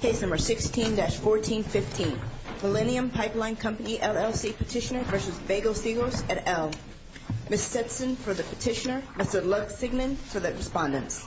Case No. 16-1415, Millennium Pipeline Company, LLC, Petitioner v. Basil Seggos, et al. Ms. Setson for the petitioner, Mr. Luxignan for the respondents.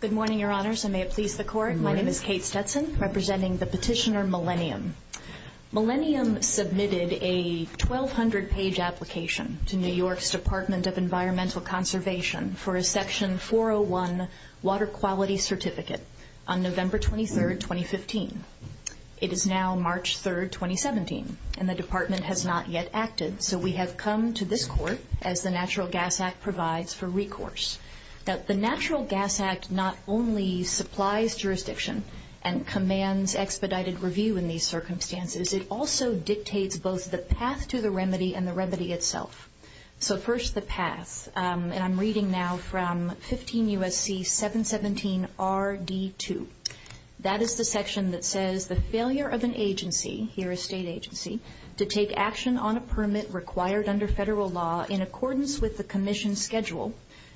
Good morning, Your Honors, and may it please the Court, my name is Kate Stetson representing the petitioner, Millennium. Millennium submitted a 1,200-page application to New York's Department of Environmental Conservation for a Section 401 Water Quality Certificate on November 23, 2015. It is now March 3, 2017, and the Department has not yet acted, so we have come to this Court, as the Natural Gas Act provides, for recourse. Now, the Natural Gas Act not only supplies jurisdiction and commands expedited review in these circumstances, it also dictates both the path to the remedy and the remedy itself. So first, the path, and I'm reading now from 15 U.S.C. 717 R.D. 2. That is the section that says, the failure of an agency, here a state agency, to take action on a permit required under federal law in accordance with the commission schedule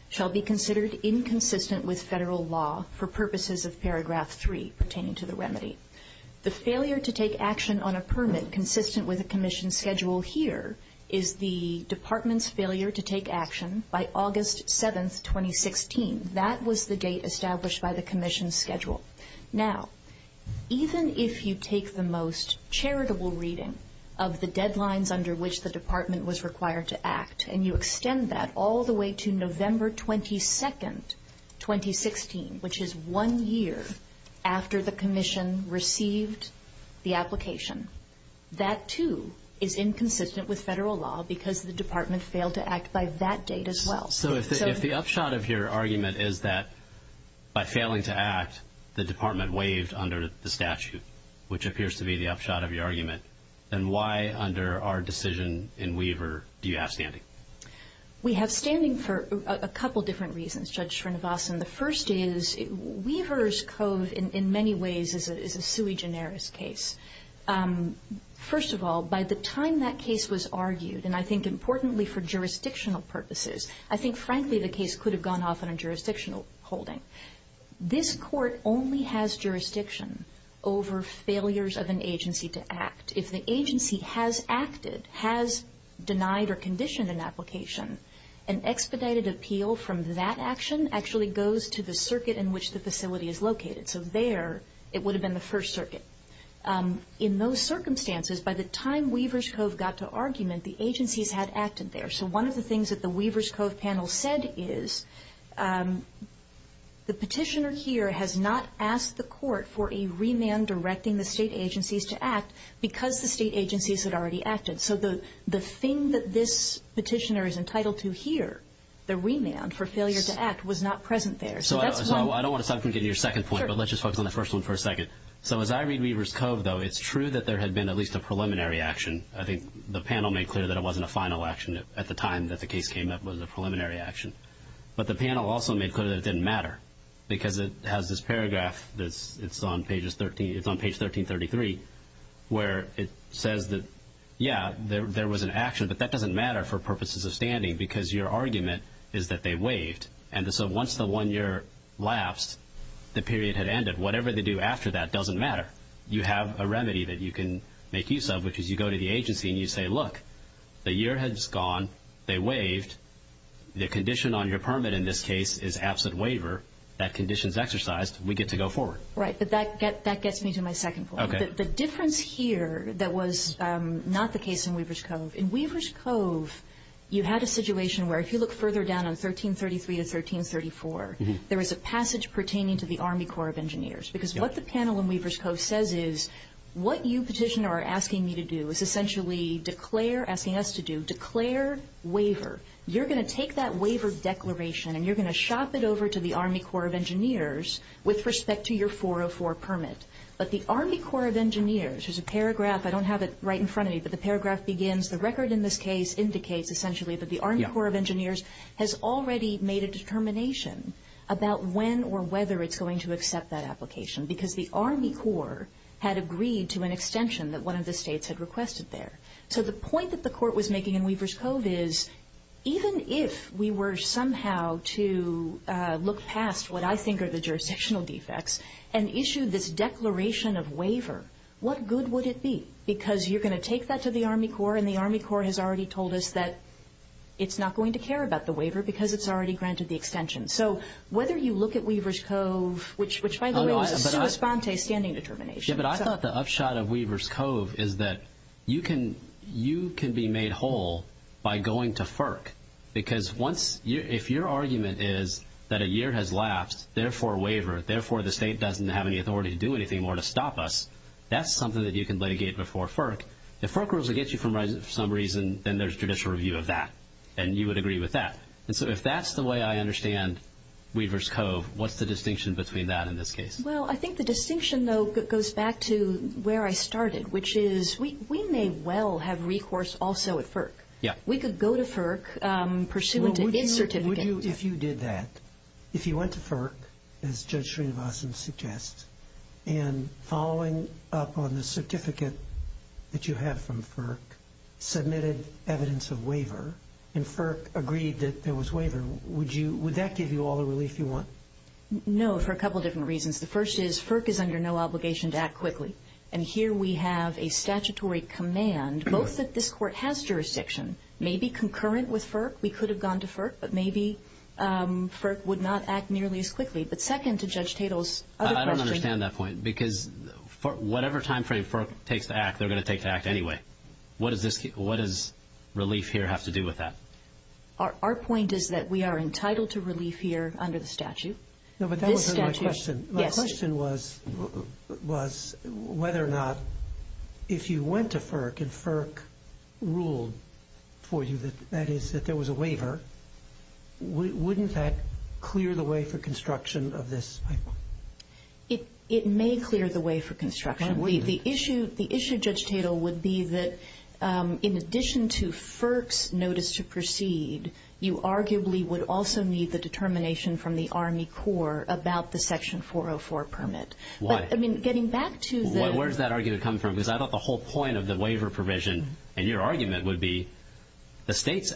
shall be considered inconsistent with federal law for purposes of paragraph 3 pertaining to the remedy. The failure to take action on a permit consistent with the commission schedule here is the department's failure to take action by August 7, 2016. That was the date established by the commission schedule. Now, even if you take the most charitable reading of the deadlines under which the department was required to act, and you extend that all the way to November 22, 2016, which is one year after the commission received the application, that, too, is inconsistent with federal law because the department failed to act by that date as well. So if the upshot of your argument is that by failing to act, the department waived under the statute, which appears to be the upshot of your argument, then why under our decision in Weaver do you have standing? We have standing for a couple different reasons, Judge Srinivasan. The first is, Weaver's code in many ways is a sui generis case. First of all, by the time that case was argued, and I think importantly for jurisdictional purposes, I think, frankly, the case could have gone off on a jurisdictional holding. This Court only has jurisdiction over failures of an agency to act. If the agency has acted, has denied or conditioned an application, an expedited appeal from that action actually goes to the circuit in which the facility is located. So there it would have been the First Circuit. In those circumstances, by the time Weaver's code got to argument, the agencies had acted there. So one of the things that the Weaver's code panel said is, the petitioner here has not asked the Court for a remand directing the state agencies to act because the state agencies had already acted. So the thing that this petitioner is entitled to here, the remand for failure to act, was not present there. So I don't want to get into your second point, but let's just focus on the first one for a second. So as I read Weaver's code, though, it's true that there had been at least a preliminary action. I think the panel made clear that it wasn't a final action at the time that the case came up was a preliminary action. But the panel also made clear that it didn't matter because it has this paragraph that's on page 1333 where it says that, yeah, there was an action, but that doesn't matter for purposes of standing because your argument is that they waived. And so once the one year lapsed, the period had ended. Whatever they do after that doesn't matter. You have a remedy that you can make use of, which is you go to the agency and you say, look, the year has gone, they waived, the condition on your permit in this case is absent waiver, that condition's exercised, we get to go forward. Right, but that gets me to my second point. The difference here that was not the case in Weaver's Cove. In Weaver's Cove, you had a situation where if you look further down on 1333 to 1334, there was a passage pertaining to the Army Corps of Engineers. Because what the panel in Weaver's Cove says is, what you petitioner are asking me to do is essentially declare, asking us to do, declare waiver. You're going to take that waiver declaration and you're going to shop it over to the Army Corps of Engineers with respect to your 404 permit. But the Army Corps of Engineers, there's a paragraph, I don't have it right in front of me, but the paragraph begins, the record in this case indicates essentially that the Army Corps of Engineers has already made a determination about when or whether it's going to accept that application. Because the Army Corps had agreed to an extension that one of the states had requested there. So the point that the court was making in Weaver's Cove is, even if we were somehow to look past what I think are the jurisdictional defects and issue this declaration of waiver, what good would it be? Because you're going to take that to the Army Corps and the Army Corps has already told us that it's not going to care about the waiver because it's already granted the extension. So whether you look at Weaver's Cove, which by the way was a sui sponte standing determination. Yeah, but I thought the upshot of Weaver's Cove is that you can be made whole by going to FERC. Because if your argument is that a year has lapsed, therefore waiver, therefore the state doesn't have any authority to do anything more to stop us, that's something that you can litigate before FERC. If FERC rules against you for some reason, then there's judicial review of that. And you would agree with that. And so if that's the way I understand Weaver's Cove, what's the distinction between that and this case? Well, I think the distinction though goes back to where I started, which is we may well have recourse also at FERC. We could go to FERC pursuant to his certificate. If you did that, if you went to FERC, as Judge Srinivasan suggests, and following up on the certificate that you have from FERC, submitted evidence of waiver, and FERC agreed that there was waiver, would that give you all the relief you want? No, for a couple different reasons. The first is FERC is under no obligation to act quickly. And here we have a statutory command, both that this Court has jurisdiction, may be concurrent with FERC. We could have gone to FERC, but maybe FERC would not act nearly as quickly. But second to Judge Tatel's other question I don't understand that point. Because whatever time frame FERC takes to act, they're going to take to act anyway. What does relief here have to do with that? Our point is that we are entitled to relief here under the statute. No, but that was my question. Yes. My question was whether or not if you went to FERC and FERC ruled for you that that is that there was a waiver, wouldn't that clear the way for construction of this? It may clear the way for construction. The issue, Judge Tatel, would be that in addition to FERC's notice to proceed, you arguably would also need the determination from the Army Corps about the Section 404 permit. Why? I mean, getting back to the Well, where does that argument come from? Because I thought the whole point of the waiver provision and your argument would be the state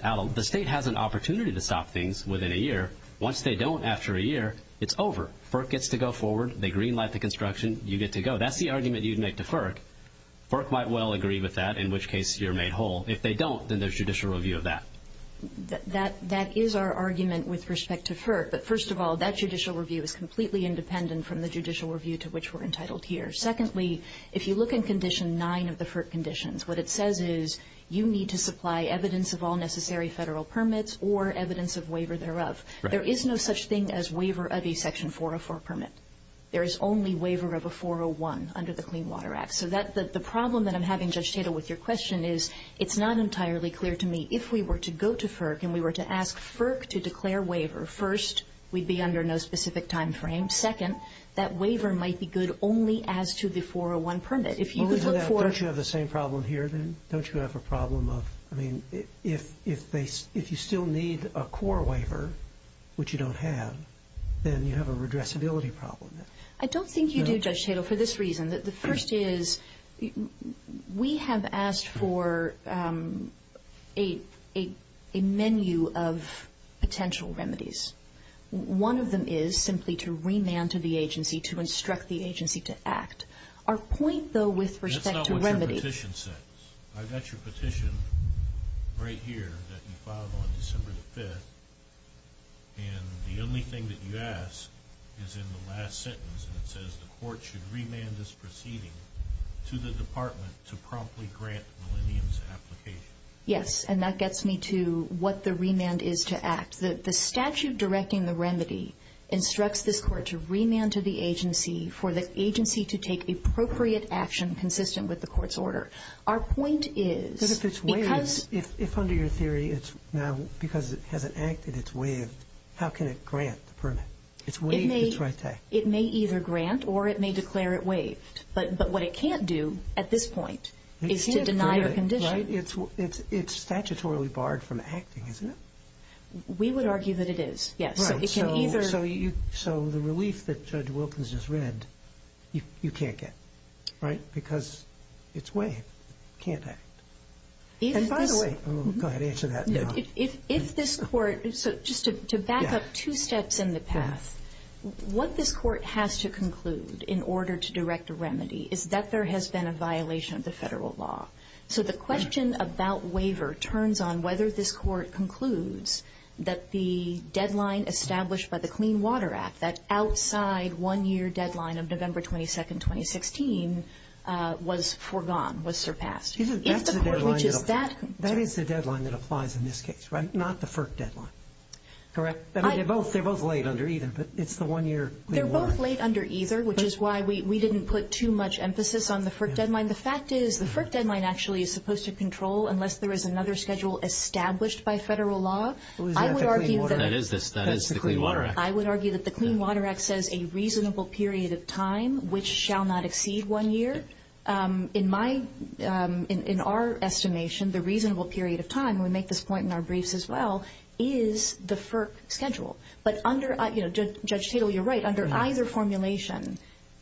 has an opportunity to stop things within a year. Once they don't after a year, it's over. FERC gets to go forward. They greenlight the construction. You get to go. That's the argument you'd make to FERC. FERC might well agree with that, in which case you're made whole. If they don't, then there's judicial review of that. That is our argument with respect to FERC. But first of all, that judicial review is completely independent from the judicial review to which we're entitled here. Secondly, if you look in Condition 9 of the FERC conditions, what it says is you need to supply evidence of all necessary Federal permits or evidence of waiver thereof. Right. There is no such thing as waiver of a Section 404 permit. There is only waiver of a 401 under the Clean Water Act. So the problem that I'm having, Judge Tatel, with your question is it's not entirely clear to me if we were to go to FERC and we were to ask FERC to declare waiver, first, we'd be under no specific time frame. Second, that waiver might be good only as to the 401 permit. If you could look for the same problem here, then, don't you have a problem of, I mean, if they, if you still need a core waiver, which you don't have, then you have a redressability problem. I don't think you do, Judge Tatel, for this reason. The first is we have asked for a menu of potential remedies. One of them is simply to remand to the agency, to instruct the agency to act. Our point, though, with respect to remedy... That's not what your petition says. I've got your petition right here that you filed on December the 5th, and the only thing that you ask is in the last sentence, and it says the Court should remand this proceeding to the Department to promptly grant the Millennium's application. Yes, and that gets me to what the remand is to act. The statute directing the remedy instructs this Court to remand to the agency for the agency to take appropriate action consistent with the Court's order. Our point is... But if it's waived, if under your theory it's now, because it hasn't acted, it's waived, how can it grant the permit? It's waived, it's right to act. It may either grant or it may declare it waived, but what it can't do at this point is to deny the condition. It's statutorily barred from acting, isn't it? We would argue that it is, yes. So the relief that Judge Wilkins just read, you can't get, right? Because it's waived, can't act. And by the way... Go ahead, answer that. If this Court... So just to back up two steps in the path, what this Court has to conclude in order to direct a remedy is that there has been a violation of the federal law. So the question about waiver turns on whether this Court concludes that the deadline established by the Clean Water Act, that outside one-year deadline of November 22nd, 2016, was foregone, was surpassed. That's the deadline that applies in this case, right? Not the FERC deadline, correct? They're both laid under either, but it's the one-year... They're both laid under either, which is why we didn't put too much emphasis on the FERC deadline actually is supposed to control unless there is another schedule established by federal law. That is the Clean Water Act. I would argue that the Clean Water Act says a reasonable period of time, which shall not exceed one year. In our estimation, the reasonable period of time, and we make this point in our briefs as well, is the FERC schedule. But under... Judge Tatel, you're right. Under either formulation,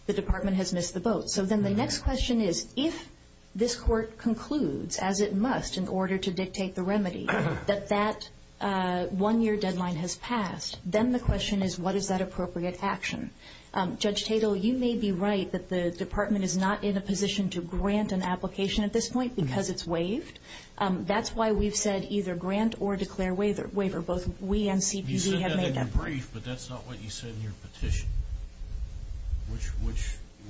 the Department has missed the boat. So then the next question is, if this Court concludes, as it must in order to dictate the remedy, that that one-year deadline has passed, then the question is, what is that appropriate action? Judge Tatel, you may be right that the Department is not in a position to grant an application at this point because it's waived. That's why we've said either grant or declare waiver. Both we and CPD have made that point. You said in your brief, but that's not what you said in your petition.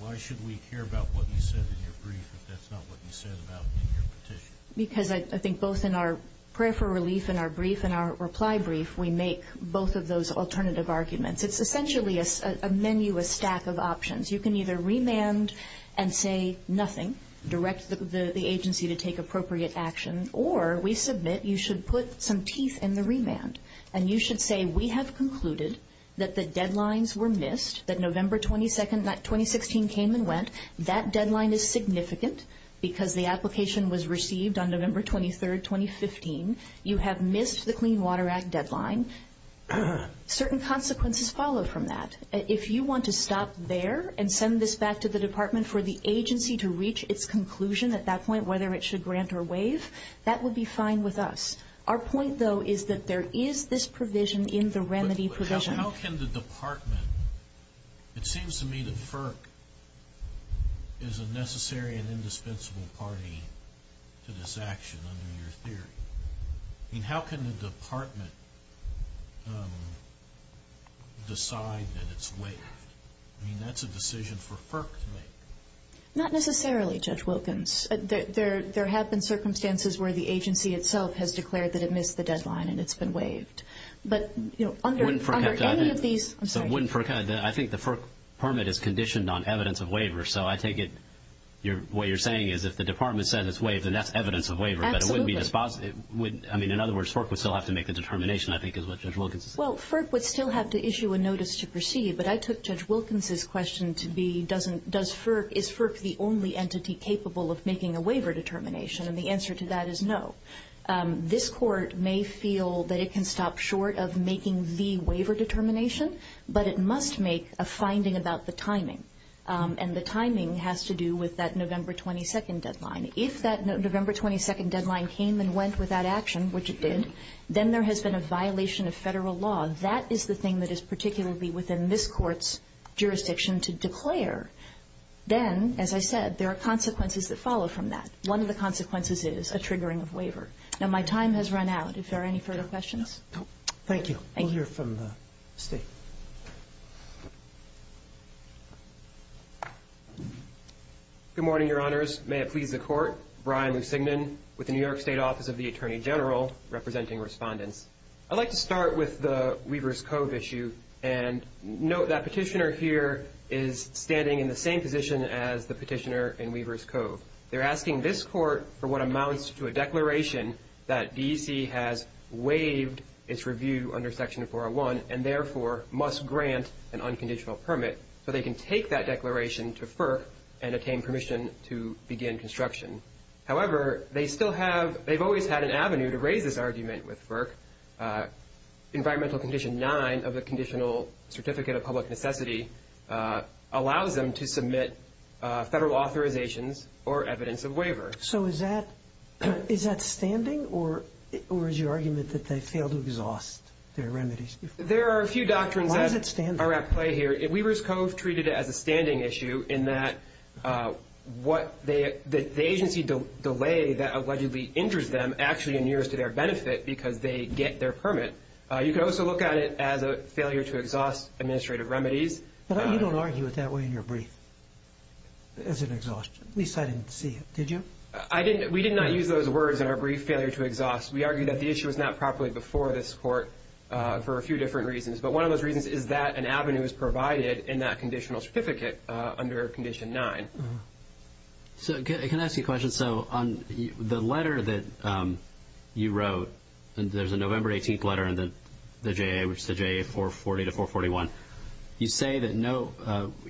Why should we care about what you said in your brief if that's not what you said about in your petition? Because I think both in our prayer for relief in our brief and our reply brief, we make both of those alternative arguments. It's essentially a menu, a stack of options. You can either remand and say nothing, direct the agency to take appropriate action, or we submit you should put some teeth in the remand. And you should say we have concluded that the deadlines were missed, that November 22nd, 2016 came and went. That deadline is significant because the application was received on November 23rd, 2015. You have missed the Clean Water Act deadline. Certain consequences follow from that. If you want to stop there and send this back to the Department for the agency to reach its conclusion at that point, whether it should grant or waive, that would be fine with us. Our point, though, is that there is this provision in the remedy provision. But how can the Department, it seems to me that FERC is a necessary and indispensable party to this action under your theory. I mean, how can the Department decide that it's waived? I mean, that's a decision for FERC to make. Not necessarily, Judge Wilkins. There have been circumstances where the agency itself has declared that it missed the deadline and it's been waived. I think the FERC permit is conditioned on evidence of waiver, so I take it what you're saying is if the Department says it's waived, then that's evidence of waiver. Absolutely. But in other words, FERC would still have to make the determination, I think is what Judge Wilkins is saying. Well, FERC would still have to issue a notice to proceed, but I took Judge Wilkins' question to be does FERC, is FERC the only entity capable of making a waiver determination? And the answer to that is no. This Court may feel that it can stop short of making the waiver determination, but it must make a finding about the timing. And the timing has to do with that November 22nd deadline. If that November 22nd deadline came and went without action, which it did, then there has been a violation of Federal law. That is the thing that is particularly within this Court's jurisdiction to declare. Then, as I said, there are consequences that follow from that. One of the consequences is a triggering of waiver. Now, my time has run out. If there are any further questions. Thank you. Thank you. We'll hear from the State. Good morning, Your Honors. May it please the Court. Brian Lussigman with the New York State Office of the Attorney General representing Respondents. I'd like to start with the Weaver's Cove issue. And note that Petitioner here is standing in the same position as the Petitioner in Weaver's Cove. They're asking this Court for what amounts to a declaration that DEC has waived its review under Section 401 and, therefore, must grant an unconditional permit so they can take that declaration to FERC and attain permission to begin construction. However, they still have, they've always had an avenue to raise this argument with FERC. Environmental Condition 9 of the Conditional Certificate of Public Necessity allows them to submit Federal authorizations or evidence of waiver. So is that, is that standing or is your argument that they failed to exhaust their remedies? There are a few doctrines that are at play here. Why is it standing? It's a standing issue in that what they, the agency delay that allegedly injures them actually inures to their benefit because they get their permit. You can also look at it as a failure to exhaust administrative remedies. But you don't argue it that way in your brief as an exhaust, at least I didn't see it. Did you? I didn't, we did not use those words in our brief, failure to exhaust. We argued that the issue was not properly before this Court for a few different reasons. But one of those reasons is that an avenue is provided in that Conditional Certificate under Condition 9. So can I ask you a question? So on the letter that you wrote, there's a November 18th letter in the J.A., which is the J.A. 440 to 441. You say that no,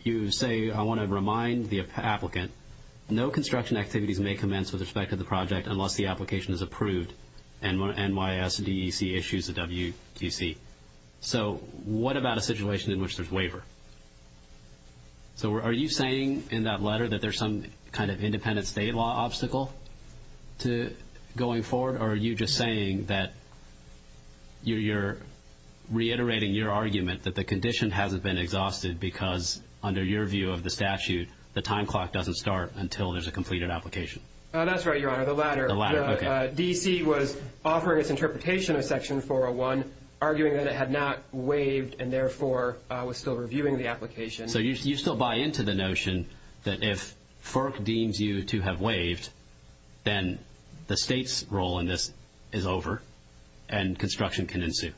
you say, I want to remind the applicant, no construction activities may commence with respect to the project unless the application is approved. And NYSDEC issues a WQC. So what about a situation in which there's waiver? So are you saying in that letter that there's some kind of independent state law obstacle to going forward? Or are you just saying that you're reiterating your argument that the condition hasn't been exhausted because, under your view of the statute, the time clock doesn't That's right, Your Honor. The latter. Okay. DEC was offering its interpretation of Section 401, arguing that it had not waived and therefore was still reviewing the application. So you still buy into the notion that if FERC deems you to have waived, then the state's role in this is over and construction can ensue.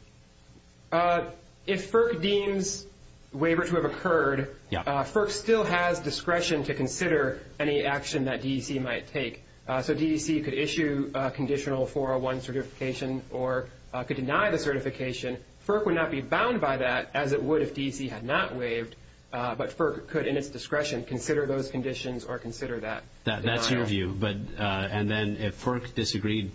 If FERC deems waiver to have occurred, FERC still has discretion to consider any action that DEC might take. So DEC could issue a conditional 401 certification or could deny the certification. FERC would not be bound by that, as it would if DEC had not waived, but FERC could, in its discretion, consider those conditions or consider that denial. That's your view. And then if FERC disagreed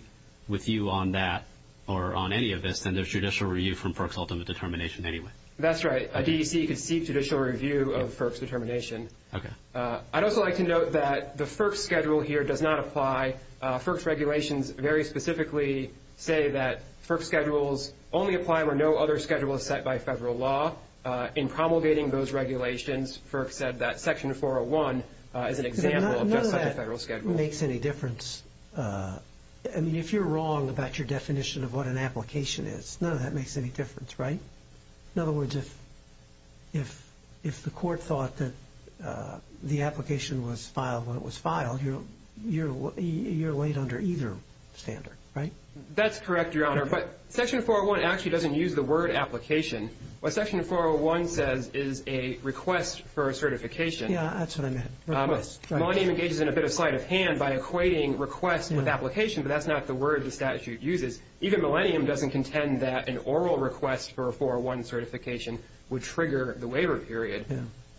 with you on that or on any of this, then there's judicial review from FERC's ultimate determination anyway. That's right. A DEC could seek judicial review of FERC's determination. Okay. I'd also like to note that the FERC schedule here does not apply. FERC's regulations very specifically say that FERC schedules only apply where no other schedule is set by federal law. In promulgating those regulations, FERC said that Section 401 is an example of just like a federal schedule. None of that makes any difference. I mean, if you're wrong about your definition of what an application is, none of that makes any difference, right? In other words, if the court thought that the application was filed when it was filed, you're laid under either standard, right? That's correct, Your Honor. But Section 401 actually doesn't use the word application. What Section 401 says is a request for a certification. Yeah, that's what I meant, request. Millennium engages in a bit of sleight of hand by equating request with application, but that's not the word the statute uses. Even Millennium doesn't contend that an oral request for a 401 certification would trigger the waiver period.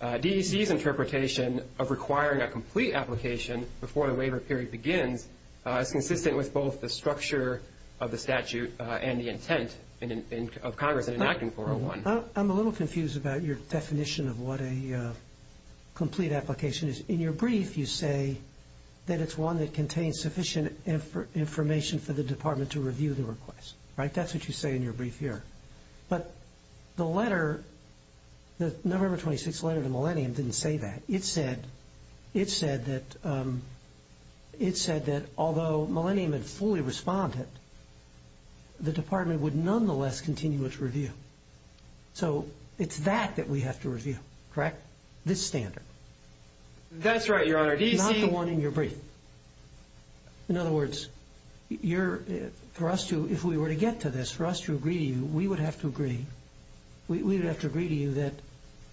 DEC's interpretation of requiring a complete application before the waiver period begins is consistent with both the structure of the statute and the intent of Congress in enacting 401. I'm a little confused about your definition of what a complete application is. In your brief, you say that it's one that contains sufficient information for the review of the request, right? That's what you say in your brief here. But the letter, the November 26th letter to Millennium didn't say that. It said that although Millennium had fully responded, the Department would nonetheless continue its review. So it's that that we have to review, correct? This standard. That's right, Your Honor. Not the one in your brief. In other words, for us to, if we were to get to this, for us to agree to you, we would have to agree, we would have to agree to you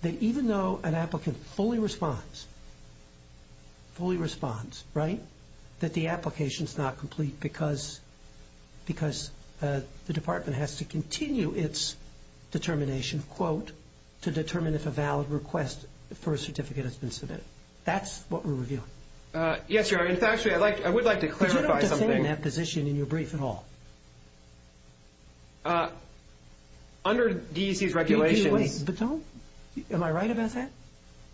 that even though an applicant fully responds, fully responds, right, that the application is not complete because the Department has to continue its determination, quote, to determine if a valid request for a certificate has been submitted. That's what we're reviewing. Yes, Your Honor. In fact, I would like to clarify something. But you don't defend that position in your brief at all. Under DEC's regulations. Wait. But don't. Am I right about that?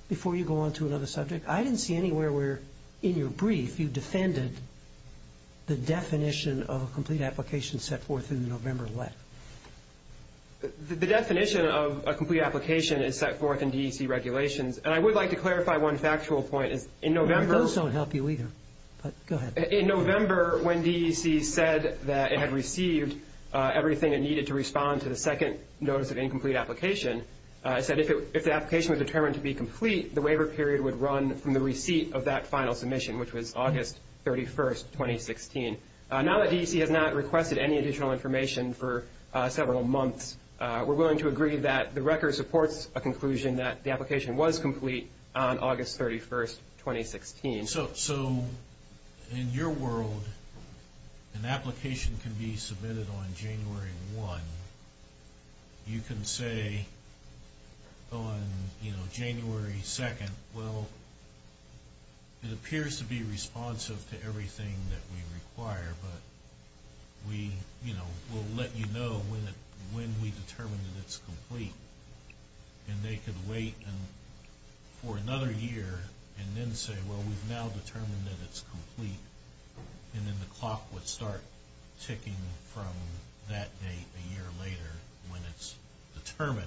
Before you go on to another subject. I didn't see anywhere where in your brief you defended the definition of a complete application set forth in the November letter. The definition of a complete application is set forth in DEC regulations. And I would like to clarify one factual point. Those don't help you either. Go ahead. In November, when DEC said that it had received everything it needed to respond to the second notice of incomplete application, it said if the application was determined to be complete, the waiver period would run from the receipt of that final submission, which was August 31, 2016. Now that DEC has not requested any additional information for several months, we're willing to agree that the record supports a conclusion that the application was complete on August 31, 2016. So in your world, an application can be submitted on January 1. You can say on, you know, January 2, well it appears to be responsive to everything that we require, but we, you know, will let you know when we determine that it's complete. And they could wait for another year and then say, well we've now determined that it's complete, and then the clock would start ticking from that date a year later when it's determined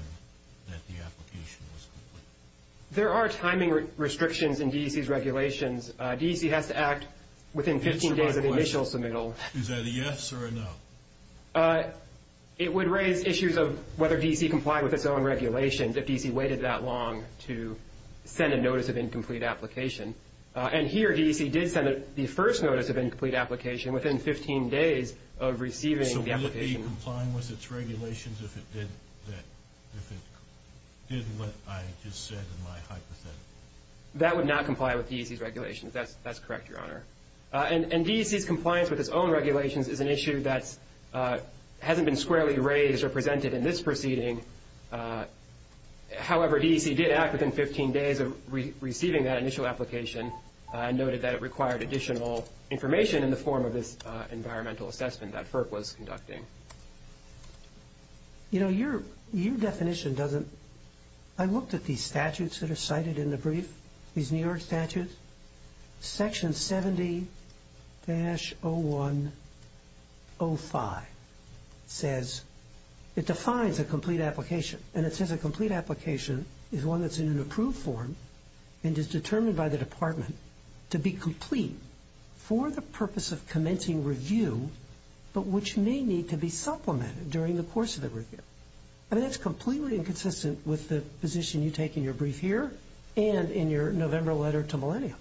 that the application was complete. There are timing restrictions in DEC's regulations. DEC has to act within 15 days of the initial submittal. Is that a yes or a no? It would raise issues of whether DEC complied with its own regulations, if DEC waited that long to send a notice of incomplete application. And here DEC did send the first notice of incomplete application within 15 days of receiving the application. So would it be complying with its regulations if it did what I just said in my hypothetical? That would not comply with DEC's regulations. That's correct, Your Honor. And DEC's compliance with its own regulations is an issue that hasn't been squarely raised or presented in this proceeding. However, DEC did act within 15 days of receiving that initial application and noted that it required additional information in the form of this environmental assessment that FERC was conducting. You know, your definition doesn't – I looked at these statutes that are cited in the brief, these New York statutes. Section 70-0105 says – it defines a complete application, and it says a complete application is one that's in an approved form and is determined by the department to be complete for the purpose of commencing review but which may need to be supplemented during the course of the review. I mean, that's completely inconsistent with the position you take in your brief here and in your November letter to Millennium.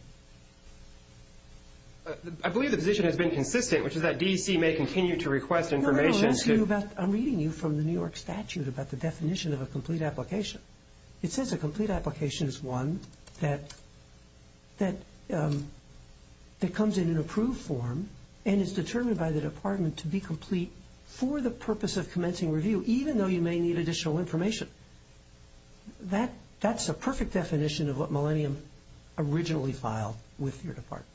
I believe the position has been consistent, which is that DEC may continue to request information. No, no, no. I'm reading you from the New York statute about the definition of a complete application. It says a complete application is one that comes in an approved form and is determined by the department to be complete for the purpose of commencing review, even though you may need additional information. That's a perfect definition of what Millennium originally filed with your department.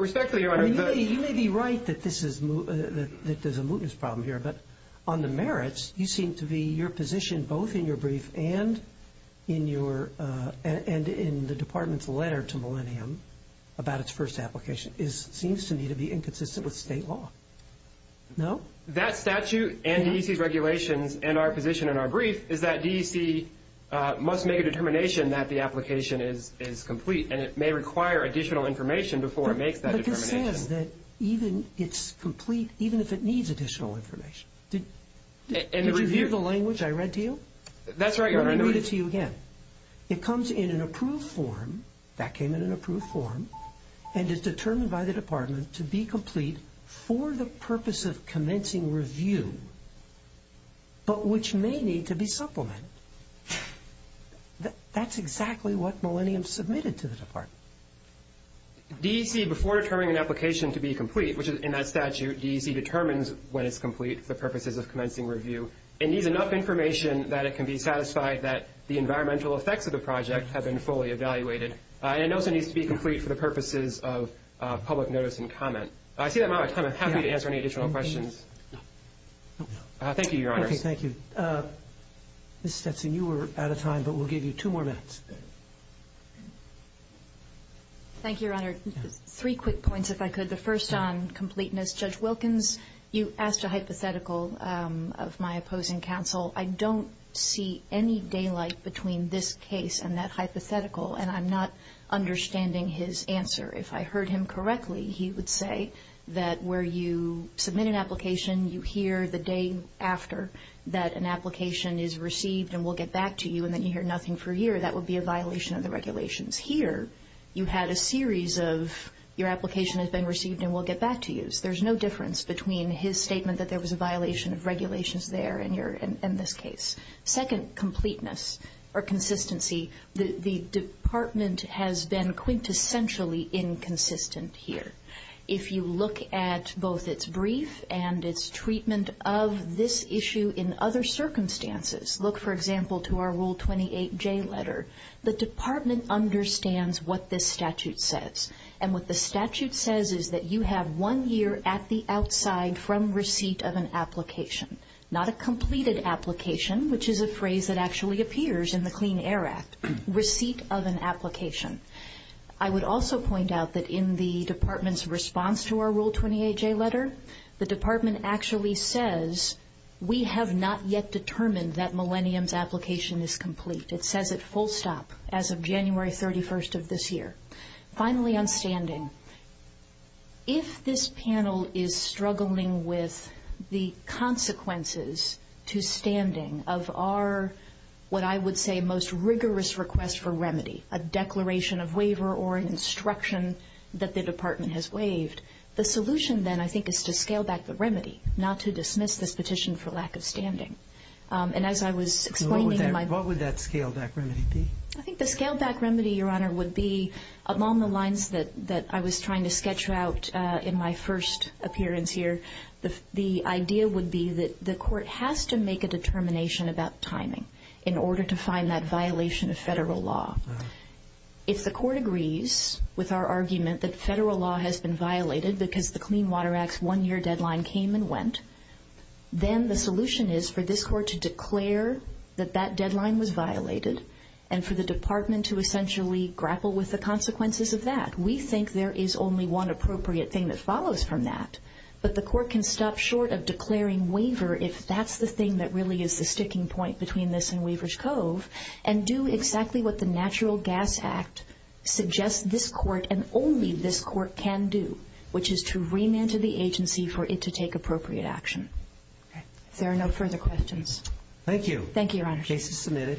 Respectfully, Your Honor, the – I mean, you may be right that this is – that there's a mootness problem here, but on the merits, you seem to be – your position both in your brief and in your – and in the department's letter to Millennium about its first application seems to me to be inconsistent with state law. No? That statute and DEC's regulations and our position in our brief is that DEC must make a determination that the application is complete, and it may require additional information before it makes that determination. But this says that even it's complete, even if it needs additional information. Did you hear the language I read to you? That's right, Your Honor. Let me read it to you again. It comes in an approved form – that came in an approved form – and is determined by the department to be complete for the purpose of commencing review, but which may need to be supplemented. That's exactly what Millennium submitted to the department. DEC, before determining an application to be complete, which in that statute, DEC determines when it's complete for purposes of commencing review. It needs enough information that it can be satisfied that the environmental effects of the project have been fully evaluated. And it also needs to be complete for the purposes of public notice and comment. I see I'm out of time. I'm happy to answer any additional questions. Thank you, Your Honor. Okay, thank you. Ms. Stetson, you were out of time, but we'll give you two more minutes. Thank you, Your Honor. Three quick points, if I could. The first on completeness. Judge Wilkins, you asked a hypothetical of my opposing counsel. I don't see any daylight between this case and that hypothetical, and I'm not understanding his answer. If I heard him correctly, he would say that where you submit an application, you hear the day after that an application is received and we'll get back to you, and then you hear nothing for a year, that would be a violation of the regulations. Here, you had a series of your application has been received and we'll get back to you. So there's no difference between his statement that there was a violation of regulations there in this case. Second, completeness or consistency. The department has been quintessentially inconsistent here. If you look at both its brief and its treatment of this issue in other circumstances, look, for example, to our Rule 28J letter. The department understands what this statute says, and what the statute says is that you have one year at the outside from receipt of an application. Not a completed application, which is a phrase that actually appears in the Clean Air Act. Receipt of an application. I would also point out that in the department's response to our Rule 28J letter, the department actually says, we have not yet determined that Millennium's application is complete. It says it full stop as of January 31st of this year. Finally, on standing. If this panel is struggling with the consequences to standing of our, what I would say most rigorous request for remedy, a declaration of waiver or an instruction that the department has waived, the solution then I think is to scale back the remedy, not to dismiss this petition for lack of standing. And as I was explaining in my... What would that scale back remedy be? I think the scale back remedy, Your Honor, would be along the lines that I was trying to sketch out in my first appearance here. The idea would be that the court has to make a determination about timing in order to find that violation of federal law. If the court agrees with our argument that federal law has been violated because the Clean Water Act's one year deadline came and went, then the solution is for this court to declare that that deadline was violated, and for the department to essentially grapple with the consequences of that. We think there is only one appropriate thing that follows from that, but the court can stop short of declaring waiver if that's the thing that really is the sticking point between this and Weaver's Cove, and do exactly what the Natural Gas Act suggests this court and only this court can do, which is to remand to the agency for it to take appropriate action. Thank you. Thank you, Your Honor. The case is submitted.